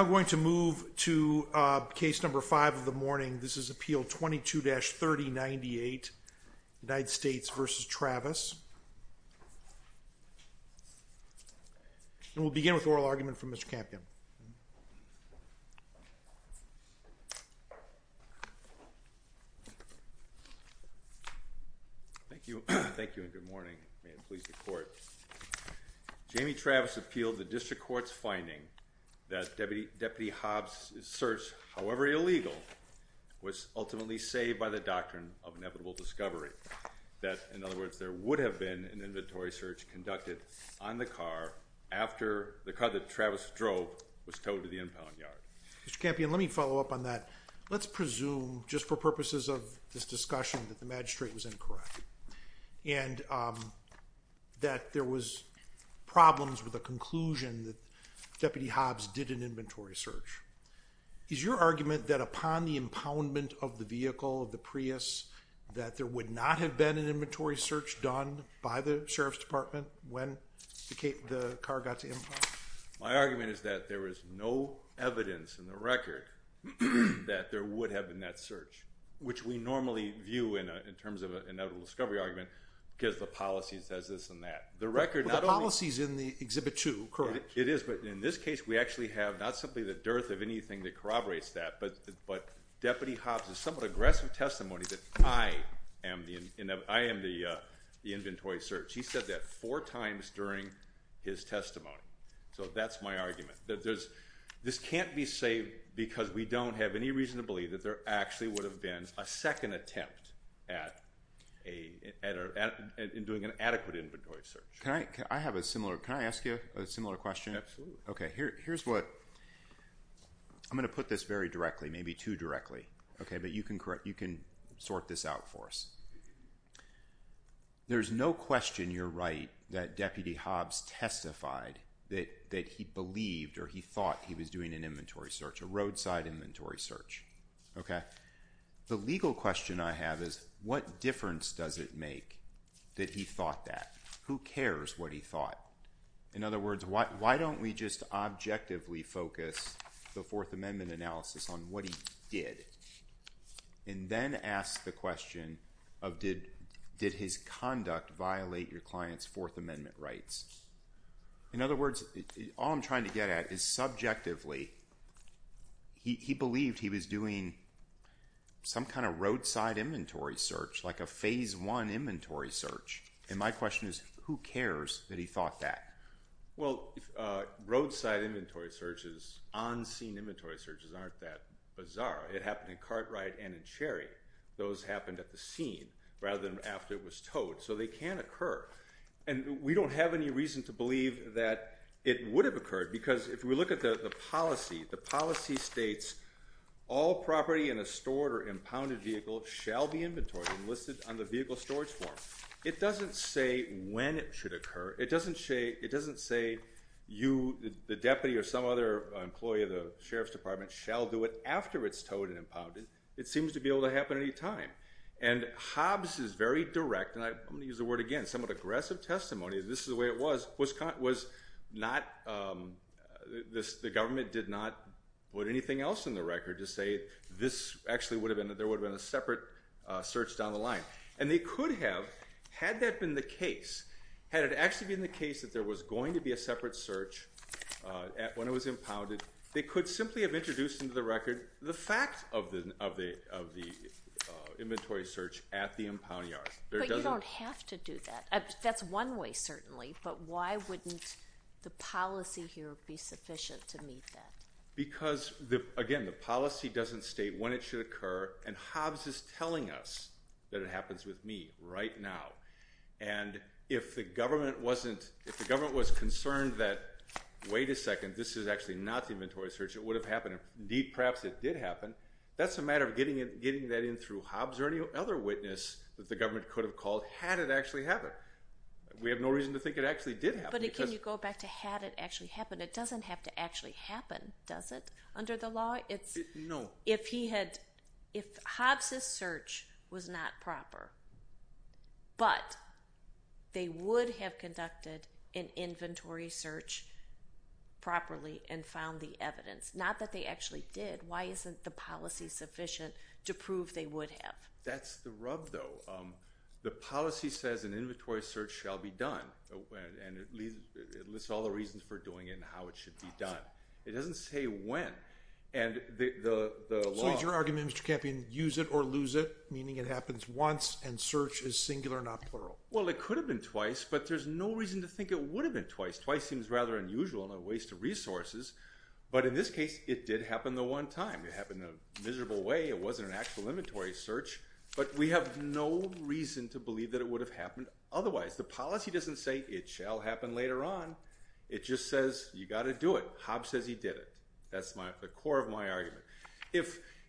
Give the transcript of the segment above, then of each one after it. I'm going to move to case number 5 of the morning. This is Appeal 22-3098 United States v. Travis. And we'll begin with oral argument from Mr. Campion. Thank you and good morning. May it please the court. Jamie Travis appealed the district court's finding that Deputy Hobbs' search, however illegal, was ultimately saved by the Doctrine of Inevitable Discovery. That, in other words, there would have been an inventory search conducted on the car after the car that Travis drove was towed to the impound yard. Mr. Campion, let me follow up on that. Let's presume, just for purposes of this discussion, that the magistrate was incorrect and that there was problems with the conclusion that Deputy Hobbs did an inventory search. Is your argument that upon the impoundment of the vehicle, of the Prius, that there would not have been an inventory search done by the Sheriff's Department when the car got to impound? My argument is that there is no evidence in the record that there would have been that search, which we normally view in terms of an inevitable discovery argument, because the policy says this and that. The policy is in the Exhibit 2, correct? It is, but in this case, we actually have not simply the dearth of anything that corroborates that, but Deputy Hobbs' somewhat aggressive testimony that I am the inventory search. He said that four times during his testimony. So that's my argument. This can't be saved because we don't have any reason to believe that there actually would have been a second attempt at doing an adequate inventory search. Can I ask you a similar question? Absolutely. Here's what, I'm going to put this very directly, maybe too directly, but you can sort this out for us. There's no question you're right that Deputy Hobbs testified that he believed or he thought he was doing an inventory search, a roadside inventory search. The legal question I have is what difference does it make that he thought that? Who cares what he thought? In other words, why don't we just objectively focus the Fourth Amendment analysis on what he did, and then ask the question of did his conduct violate your client's Fourth Amendment rights? In other words, all I'm trying to get at is subjectively, he believed he was doing some kind of roadside inventory search, like a phase one inventory search, and my question is who cares that he thought that? Well, roadside inventory searches, on-scene inventory searches aren't that bizarre. It happened in Cartwright and in Cherry. Those happened at the scene rather than after it can occur, and we don't have any reason to believe that it would have occurred, because if we look at the policy, the policy states all property in a stored or impounded vehicle shall be inventory enlisted on the vehicle storage form. It doesn't say when it should occur. It doesn't say you, the deputy, or some other employee of the Sheriff's Department shall do it after it's towed and impounded. It seems to be able to happen at any time, and Hobbs is very direct, and I'm going to use the word again, somewhat aggressive testimony. This is the way it was. The government did not put anything else in the record to say this actually would have been, there would have been a separate search down the line, and they could have, had that been the case, had it actually been the case that there was going to be a separate search when it was impounded, they could simply have introduced into the record the fact of the inventory search at the impound yard. But you don't have to do that. That's one way, certainly, but why wouldn't the policy here be sufficient to meet that? Because again, the policy doesn't state when it should occur, and Hobbs is telling us that it happens with me right now, and if the government wasn't, if the government was concerned that wait a second, this is actually not the inventory search, it would have happened, indeed perhaps it did happen, that's a matter of getting that in through Hobbs or any other witness that the government could have called had it actually happened. We have no reason to think it actually did happen. But can you go back to had it actually happened? It doesn't have to actually happen, does it, under the law? No. If he had, if Hobbs' search was not proper, but they would have conducted an inventory search properly and found the evidence, not that they actually did, why isn't the policy sufficient to prove they would have? That's the rub, though. The policy says an inventory search shall be done, and it lists all the reasons for doing it and how it should be done. It doesn't say when, and the law So is your argument, Mr. Campion, use it or lose it, meaning it happens once and search is singular, not plural? Well, it could have been twice, but there's no reason to think it would have been twice. Twice seems rather unusual and a waste of resources, but in this case it did happen the one time. It happened in a miserable way, it wasn't an actual inventory search, but we have no reason to believe that it would have happened otherwise. The policy doesn't say it shall happen later on, it just says you've got to do it. Hobbs says he did it. That's the core of my argument.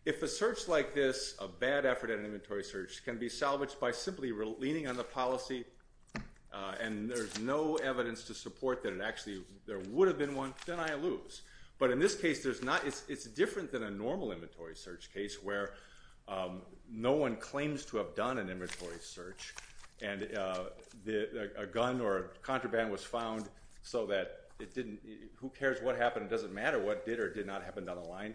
If a search like this, a bad effort at an inventory search, can be salvaged by simply leaning on the policy and there's no evidence to support that there would have been one, then I lose. But in this case, it's different than a normal inventory search case where no one claims to have done an inventory search, and a gun or a contraband was found so that who cares what happened, it doesn't matter what did or did not happen down the line.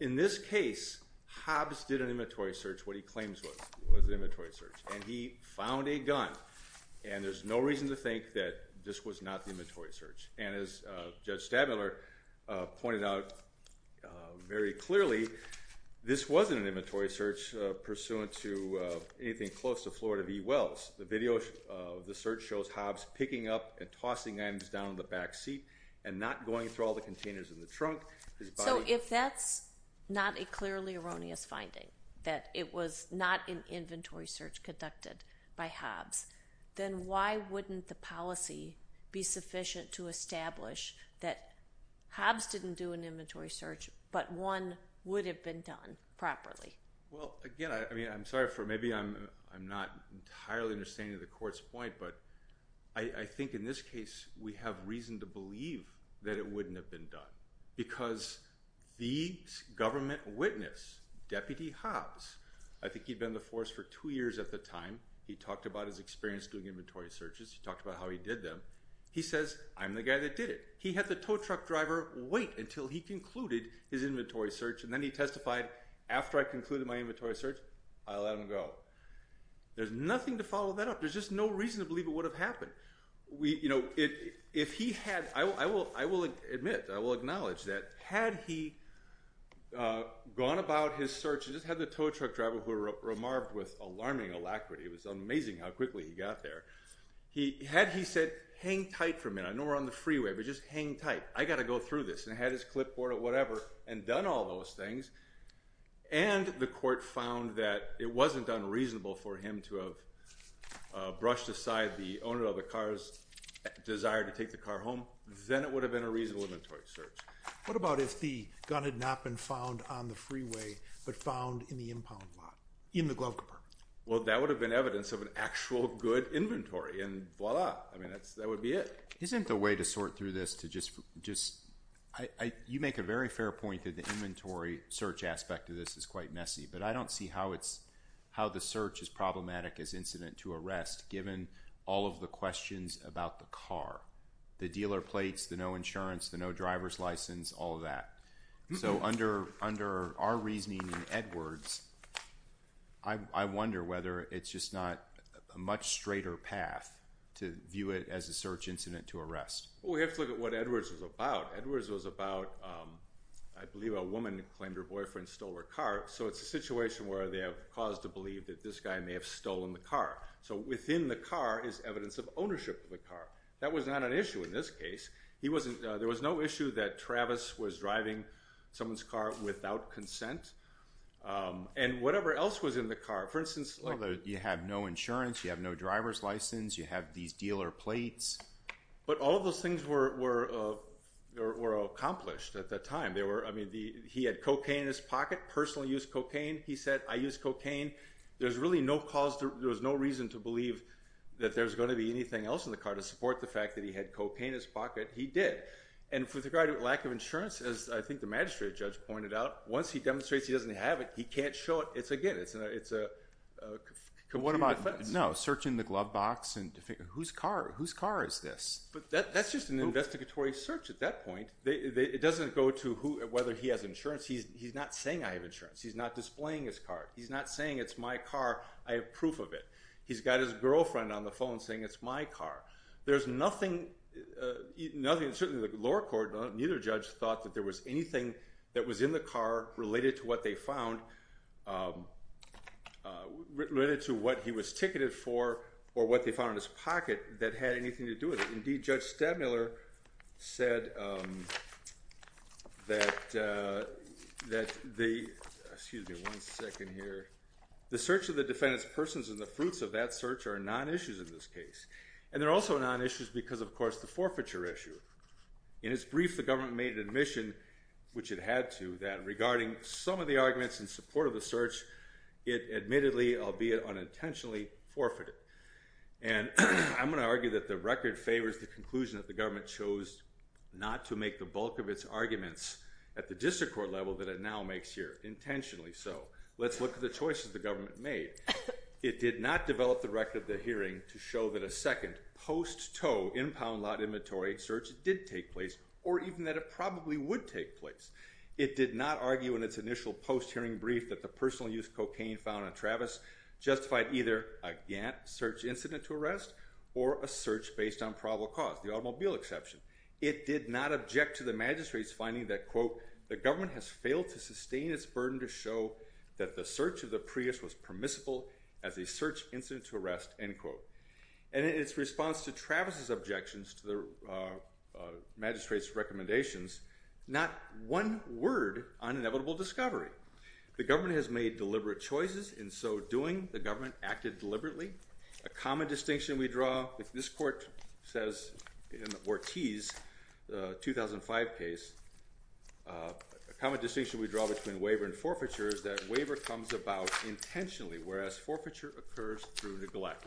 In this case, Hobbs did an inventory search, what he claims was an inventory search, and he found a gun, and there's no reason to think that this was not the inventory search. And as Judge Stadmiller pointed out very clearly, this wasn't an inventory search pursuant to anything close to Florida V. Wells. The video of the search shows Hobbs picking up and tossing items down the back seat and not going through all the containers in the trunk. So if that's not a clearly erroneous finding, that it was not an inventory search conducted by Hobbs, then why wouldn't the policy be sufficient to establish that Hobbs didn't do an inventory search, but one would have been done properly? Well, again, I'm sorry for maybe I'm not entirely understanding the court's point, but I think in this case, we have reason to believe that it wouldn't have been done because the government witness, Deputy Hobbs, I think he'd been in the force for two years at the time, he talked about his experience doing inventory searches, he talked about how he did them. He says, I'm the guy that did it. He had the tow truck driver wait until he concluded his inventory search, and then he testified, after I concluded my inventory search, I let him go. There's nothing to follow that up. There's just no reason to believe it would have happened. If he had, I will admit, I will acknowledge that had he gone about his searches, had the tow truck driver, who remarked with alarming alacrity, it was amazing how quickly he got there, had he said, hang tight for a minute, I know we're on the freeway, but just hang tight, I got to go through this, and had his clipboard or whatever, and done all those things, and the court found that it wasn't unreasonable for him to have brushed aside the owner of the car's desire to take the car home, then it would have been a reasonable inventory search. What about if the gun had not been found on the freeway, but found in the impound lot, in the glove compartment? Well, that would have been evidence of an actual good inventory, and voila, that would be it. Isn't the way to sort through this to just, you make a very fair point that the inventory search aspect of this is quite messy, but I don't see how the search is problematic as incident to arrest, given all of the questions about the car. The dealer plates, the no insurance, the no driver's license, all of that. So under our reasoning in Edwards, I wonder whether it's just not a much straighter path to view it as a search incident to arrest. Well, we have to look at what Edwards was about. Edwards was about, I believe a woman claimed her boyfriend stole her car, so it's a situation where they have cause to believe that this guy may have stolen the car. So within the car is evidence of ownership of the car. That was not an issue in this case. There was no issue that Travis was driving someone's car without consent. And whatever else was in the car, for instance- You have no insurance, you have no driver's license, you have these dealer plates. But all of those things were accomplished at that time. He had cocaine in his pocket, personally used cocaine. He said, I use cocaine. There was no reason to believe that there's going to be anything else in the car to support the fact that he had cocaine in his pocket. He did. And with regard to lack of insurance, as I think the magistrate judge pointed out, once he demonstrates he doesn't have it, he can't show it. It's again, it's a- What about, no, searching the glove box and, whose car is this? That's just an investigatory search at that point. It doesn't go to whether he has insurance. He's not saying I have insurance. He's not displaying his car. He's not saying it's my car, I have proof of it. He's got his girlfriend on the phone saying it's my car. There's nothing nothing, certainly the lower court, neither judge thought that there was anything that was in the car related to what they found, related to what he was ticketed for or what they found in his pocket that had anything to do with it. Indeed, Judge Stadmiller said that, that the, excuse me one second here, the search of the defendant's persons and the fruits of that search are non-issues in this case. And they're also non-issues because of course the forfeiture issue. In his brief, the government made an admission, which it had to, that regarding some of the arguments in support of the search, it admittedly, albeit unintentionally, forfeited. And I'm going to argue that the record favors the conclusion that the government chose not to make the bulk of its arguments at the district court level that it now makes here, intentionally so. Let's look at the choices the government made. It did not develop the record of the hearing to show that a second post-tow in-pound lot inventory search did take place or even that it probably would take place. It did not argue in its initial post-hearing brief that the personal use cocaine found on Travis justified either a Gantt search incident to arrest or a search based on probable cause, the automobile exception. It did not object to the magistrate's finding that, quote, the as a search incident to arrest, end quote. And in its response to Travis's objections to the magistrate's recommendations, not one word on inevitable discovery. The government has made deliberate choices. In so doing, the government acted deliberately. A common distinction we draw, if this court says in Ortiz's 2005 case, a common distinction we draw, is that the government acted deliberately, whereas forfeiture occurs through neglect.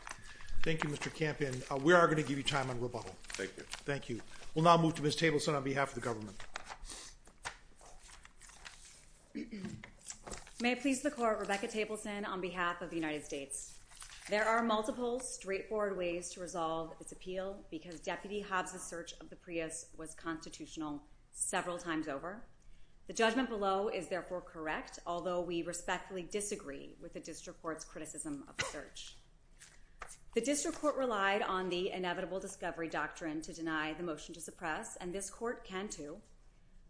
Thank you, Mr. Campion. We are going to give you time on rebuttal. Thank you. Thank you. We'll now move to Ms. Tableson on behalf of the government. May it please the court, Rebecca Tableson on behalf of the United States. There are multiple straightforward ways to resolve its appeal because Deputy Hobbs's search of the Prius was constitutional several times over. The judgment below is therefore correct, although we respectfully disagree with the district court's criticism of the search. The district court relied on the inevitable discovery doctrine to deny the motion to suppress, and this court can too.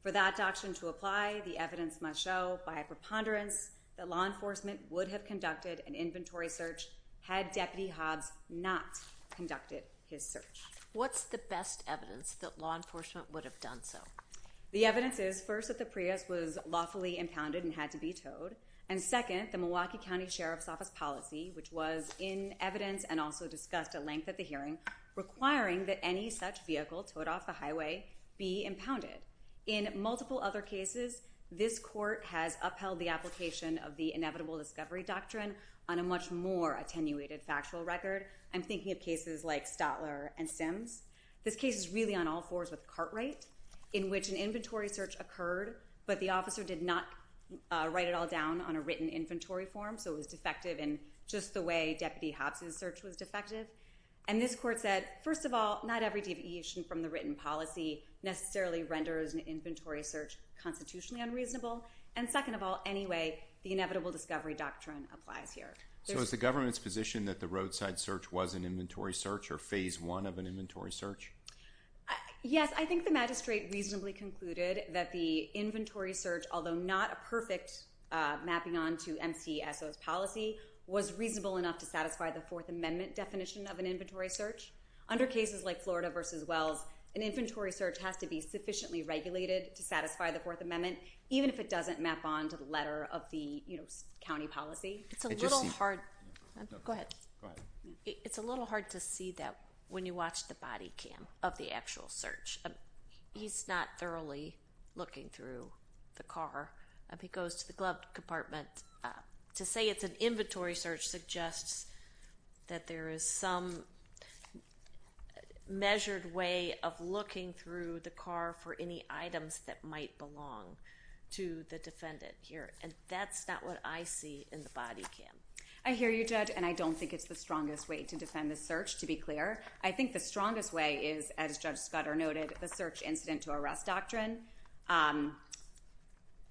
For that doctrine to apply, the evidence must show by a preponderance that law enforcement would have conducted an inventory search had Deputy Hobbs not conducted his search. What's the best evidence that law enforcement would have done so? The evidence is, first, that the Prius was lawfully impounded and had to be towed, and second, the Milwaukee County Sheriff's Office policy, which was in evidence and also discussed at length at the hearing, requiring that any such vehicle towed off the highway be impounded. In multiple other cases, this court has upheld the application of the inevitable discovery doctrine on a much more attenuated factual record. I'm thinking of cases like Stotler and Sims. This case is really on all fours with Cartwright, in which an inventory search occurred, but the officer did not write it all down on a written inventory form, so it was defective in just the way Deputy Hobbs' search was defective. And this court said, first of all, not every deviation from the written policy necessarily renders an inventory search constitutionally unreasonable, and second of all, anyway, the inevitable discovery doctrine applies here. So is the government's position that the roadside search was an inventory search or phase one of an inventory search? Yes, I think the magistrate reasonably concluded that the inventory search, although not a perfect mapping on to MCSO's policy, was reasonable enough to satisfy the Fourth Amendment definition of an inventory search. Under cases like Florida v. Wells, an inventory search has to be sufficiently regulated to satisfy the Fourth Amendment, even if it doesn't map on to the letter of the county policy. It's a little hard to see that when you watch the body cam of the actual search. He's not thoroughly looking through the car. He goes to the glove compartment. To say it's an inventory search suggests that there is some measured way of looking through the car for any items that might belong to the defendant here, and that's not what I see in the body cam. I hear you, Judge, and I don't think it's the strongest way to defend the search, to be clear. I think the strongest way is, as Judge Scudder noted, the search incident to arrest doctrine.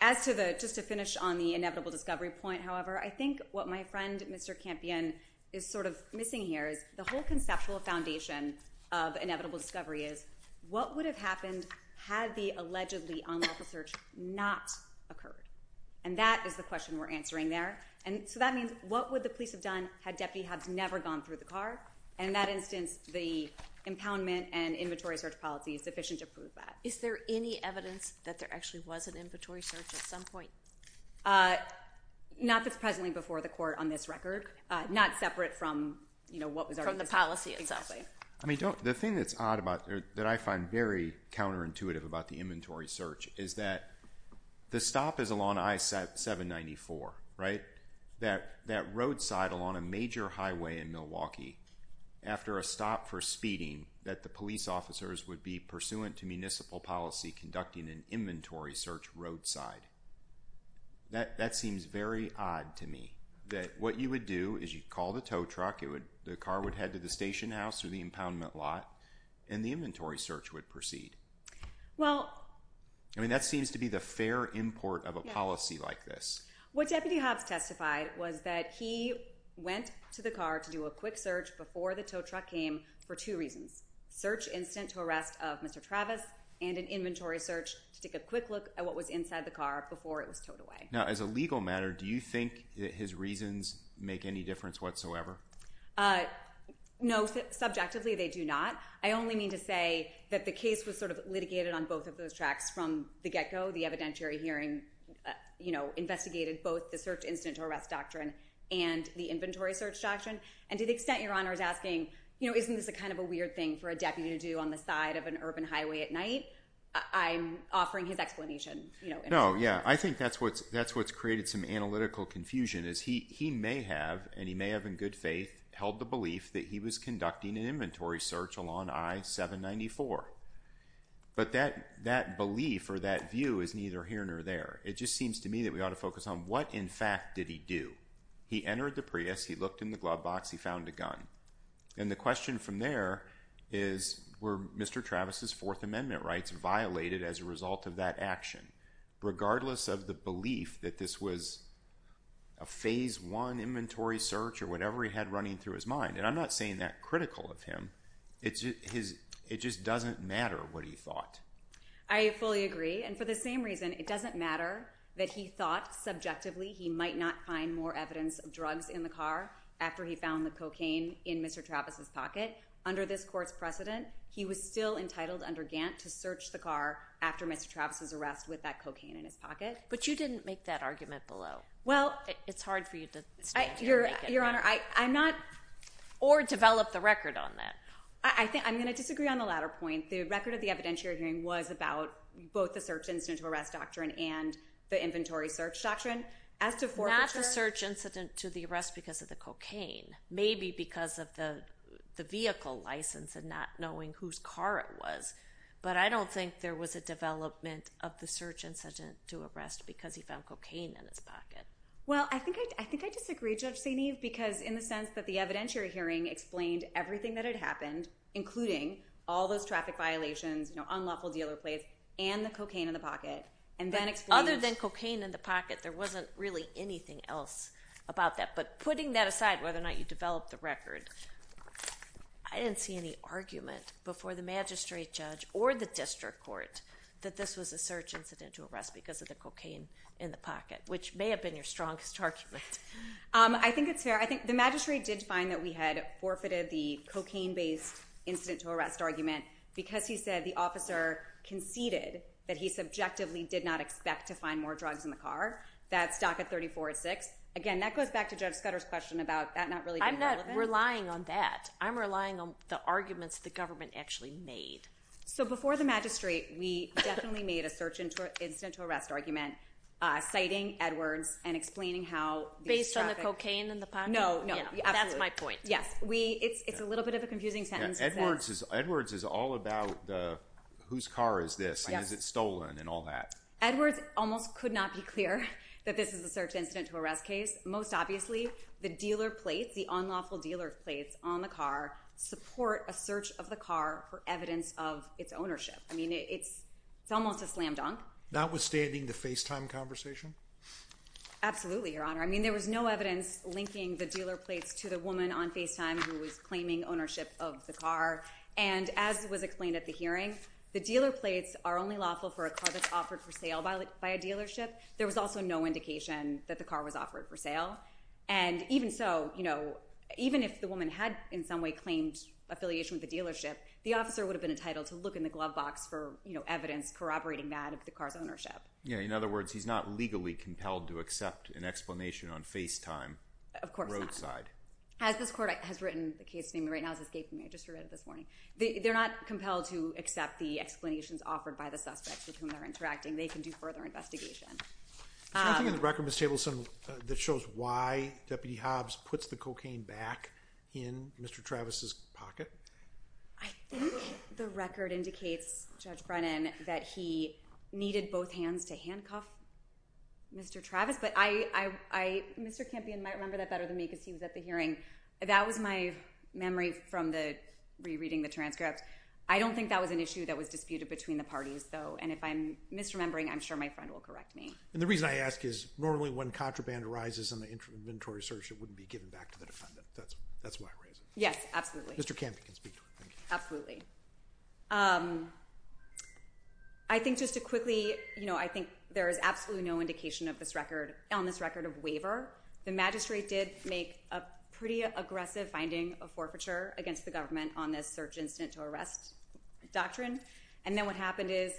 As to the—just to finish on the inevitable discovery point, however, I think what my friend, Mr. Campion, is sort of missing here is the whole conceptual foundation of inevitable discovery is, what would have happened had the allegedly unlawful search not occurred? And that is the question we're answering there. And so that means, what would the police have done had Deputy Hobbs never gone through the car? In that instance, the impoundment and inventory search policy is sufficient to prove that. Is there any evidence that there actually was an inventory search at some point? Not that's presently before the court on this record. Not separate from what was already there. From the policy itself, right? The thing that's odd about—that I find very counterintuitive about the inventory search is that the stop is along I-794, right? That roadside along a major highway in Milwaukee, after a stop for speeding, that the police officers would be pursuant to municipal policy conducting an inventory search roadside. That seems very odd to me, that what you would do is you'd call the tow truck, the car would head to the station house or the impoundment lot, and the inventory search would proceed. Well— I mean, that seems to be the fair import of a policy like this. What Deputy Hobbs testified was that he went to the car to do a quick search before the tow truck came for two reasons. Search incident to arrest of Mr. Travis, and an inventory search to take a quick look at what was inside the car before it was towed away. Now, as a legal matter, do you think that his reasons make any difference whatsoever? No, subjectively, they do not. I only mean to say that the case was sort of litigated on both of those tracks from the get-go. The evidentiary hearing, you know, investigated both the search incident to arrest doctrine and the inventory search doctrine. And to the extent Your Honor is asking, you know, isn't this kind of a weird thing for a deputy to do on the side of an urban highway at night? I'm offering his explanation, you know— No, yeah. I think that's what's—that's what's created some analytical confusion, is he may have, and he may have in good faith, held the belief that he was conducting an inventory search along I-794. But that belief or that view is neither here nor there. It just seems to me that we ought to focus on what, in fact, did he do? He entered the Prius, he looked in the glove box, he found a gun. And the question from there is, were Mr. Travis' Fourth Amendment rights violated as a result of that action? Regardless of the belief that this was a phase one inventory search or whatever he had running through his mind. And I'm not saying that critical of him. It just doesn't matter what he thought. I fully agree. And for the same reason, it doesn't matter that he thought subjectively he might not find more evidence of drugs in the car after he found the cocaine in Mr. Travis' pocket. Under this court's precedent, he was still entitled under Gantt to search the car after Mr. Travis' arrest with that cocaine in his pocket. But you didn't make that argument below. It's hard for you to stand here and make it. Or develop the record on that. I'm going to disagree on the latter point. The record of the evidentiary hearing was about both the search incident to arrest doctrine and the inventory search doctrine. Not the search incident to the arrest because of the cocaine. Maybe because of the vehicle license and not knowing whose car it was. But I don't think there was a development of the search incident to arrest because he found cocaine in his pocket. Well, I think I disagree, Judge St. Eve, because in the sense that the evidentiary hearing explained everything that had happened, including all those traffic violations, you know, unlawful dealer plays, and the cocaine in the pocket. Other than cocaine in the pocket, there wasn't really anything else about that. But putting that aside, whether or not you develop the record, I didn't see any argument before the district court that this was a search incident to arrest because of the cocaine in the pocket, which may have been your strongest argument. I think it's fair. I think the magistrate did find that we had forfeited the cocaine-based incident to arrest argument because he said the officer conceded that he subjectively did not expect to find more drugs in the car. That's DACA 34-6. Again, that goes back to Judge Scudder's question about that not really being relevant. I'm not relying on that. I'm relying on the magistrate. We definitely made a search incident to arrest argument citing Edwards and explaining how these traffic— Based on the cocaine in the pocket? No, no. Absolutely. That's my point. Yes. It's a little bit of a confusing sentence. Edwards is all about whose car is this, and is it stolen, and all that. Edwards almost could not be clear that this is a search incident to arrest case. Most obviously, the dealer plates, the unlawful dealer plates on the car support a search of the car for evidence of its ownership. It's almost a slam dunk. Notwithstanding the FaceTime conversation? Absolutely, Your Honor. There was no evidence linking the dealer plates to the woman on FaceTime who was claiming ownership of the car. As was explained at the hearing, the dealer plates are only lawful for a car that's offered for sale by a dealership. There was also no indication that the car was offered for sale. Even so, even if the woman had in some way claimed affiliation with the dealership, the officer would have been entitled to look in the glove box for evidence corroborating that of the car's ownership. In other words, he's not legally compelled to accept an explanation on FaceTime roadside. Of course not. As this court has written the case to me, right now it's escaping me. I just read it this morning. They're not compelled to accept the explanations offered by the There's one thing in the record, Ms. Tableson, that shows why Deputy Hobbs puts the cocaine back in Mr. Travis's pocket. I think the record indicates, Judge Brennan, that he needed both hands to handcuff Mr. Travis, but Mr. Campion might remember that better than me because he was at the hearing. That was my memory from the re-reading the transcript. I don't think that was an issue that was disputed between the parties, though, and if I'm misremembering, I'm sure my friend will correct me. The reason I ask is, normally when contraband arises on an inventory search, it wouldn't be given back to the defendant. That's why I raise it. Yes, absolutely. Mr. Campion can speak to it. Absolutely. I think just to quickly, I think there is absolutely no indication on this record of waiver. The magistrate did make a pretty aggressive finding of forfeiture against the government on this search incident to arrest doctrine, and then what happened is,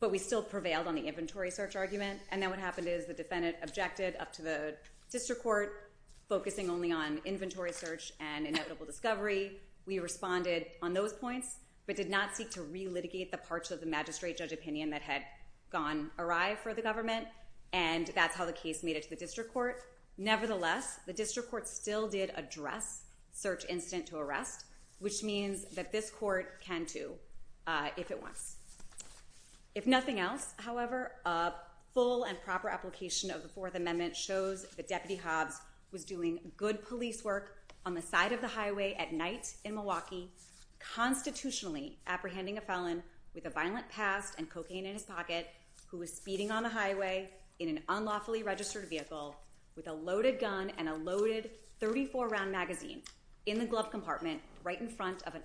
but we still prevailed on the inventory search argument, and then what happened is the defendant objected up to the district court, focusing only on inventory search and inevitable discovery. We responded on those points, but did not seek to re-litigate the parts of the magistrate judge opinion that had gone awry for the government, and that's how the case made it to the district court. Nevertheless, the district court still did address search incident to arrest, which means that this court can too, if it wants. If nothing else, however, a full and proper application of the Fourth Amendment shows that Deputy Hobbs was doing good police work on the side of the highway at night in Milwaukee, constitutionally apprehending a felon with a violent past and cocaine in his pocket, who was speeding on the highway in an unlawfully registered vehicle with a loaded gun and a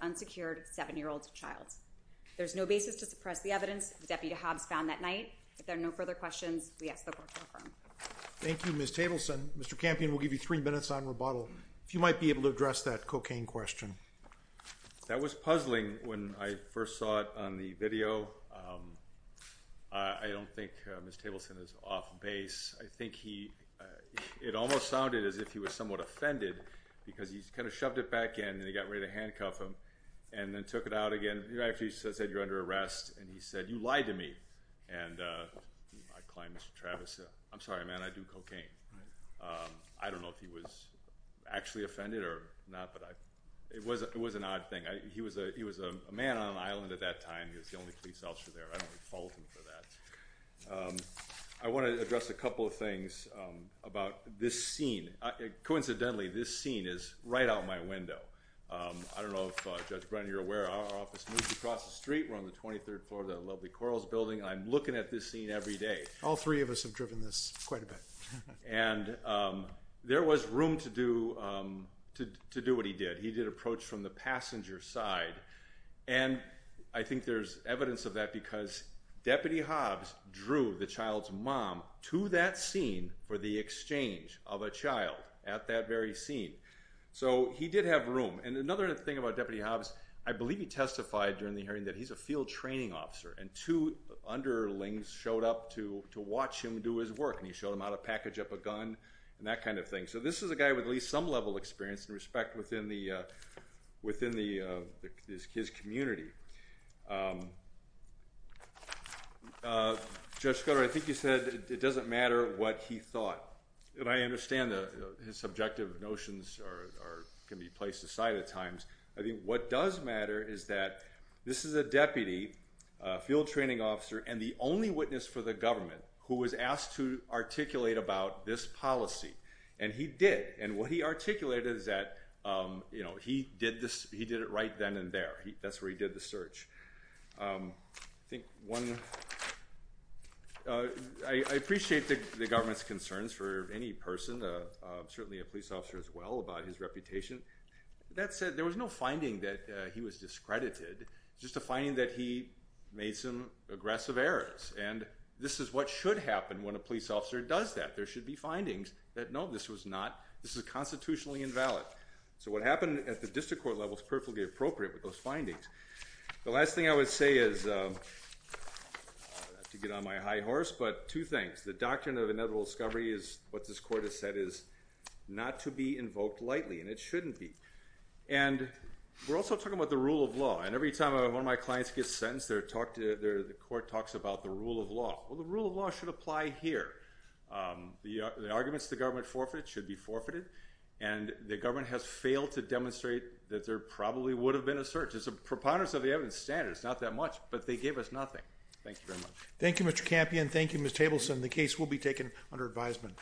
unsecured seven-year-old child. There's no basis to suppress the evidence that Deputy Hobbs found that night. If there are no further questions, we ask that we're confirmed. Thank you, Ms. Tableson. Mr. Campion, we'll give you three minutes on rebuttal, if you might be able to address that cocaine question. That was puzzling when I first saw it on the video. I don't think Ms. Tableson is off base. I think he, it almost sounded as if he was somewhat offended because he kind of shoved it back in and he got ready to handcuff him and then took it out again. He actually said, you're under arrest, and he said, you lied to me, and I climbed Mr. Travis. I'm sorry, man, I do cocaine. I don't know if he was actually offended or not, but it was an odd thing. He was a man on an island at that time. He was the only police officer there. I don't want to fault him for that. I want to address a couple of things about this scene. Coincidentally, this scene is right out my window. I don't know if Judge Brennan, you're aware, our office moves across the street. We're on the 23rd floor of that lovely Corals Building. I'm looking at this scene every day. All three of us have driven this quite a bit. There was room to do what he did. He did approach from the passenger side. I think there's evidence of that because Deputy Hobbs drew the child's mom to that scene for the exchange of a child at that very scene. He did have room. Another thing about Deputy Hobbs, I believe he testified during the hearing that he's a field training officer, and two underlings showed up to watch him do his work. He showed them how to package up a gun and that kind of thing. This is a guy with at least some level of experience and respect within his community. Judge Scudero, I think you said it doesn't matter what he thought. I understand his subjective notions can be placed aside at times. What does matter is that this is a deputy field training officer and the only witness for the government who was asked to articulate about this policy. He did. What he articulated is that he did it right then and there. That's where he did the search. I appreciate the government's concerns for any person, certainly a police officer as well, about his reputation. That said, there was no finding that he was discredited, just a finding that he made some aggressive errors. This is what should happen when a police officer does that. There should be findings that, no, this is constitutionally invalid. What happened at the district court level is perfectly appropriate with those findings. The last thing I would say is, not to get on my high horse, but two things. The doctrine of inevitable discovery is what this court has said is not to be invoked lightly and it shouldn't be. We're also talking about the rule of law. Every time one of my clients gets sentenced, the court talks about the rule of law. The rule of law should apply here. The arguments the government forfeited should be forfeited. The government has failed to demonstrate that there probably would have been a search. There's a preponderance of the evidence standard. It's not that much, but they gave us nothing. Thank you very much. Thank you Mr. Campion. Thank you Ms. Tableson. The case will be taken under advisement.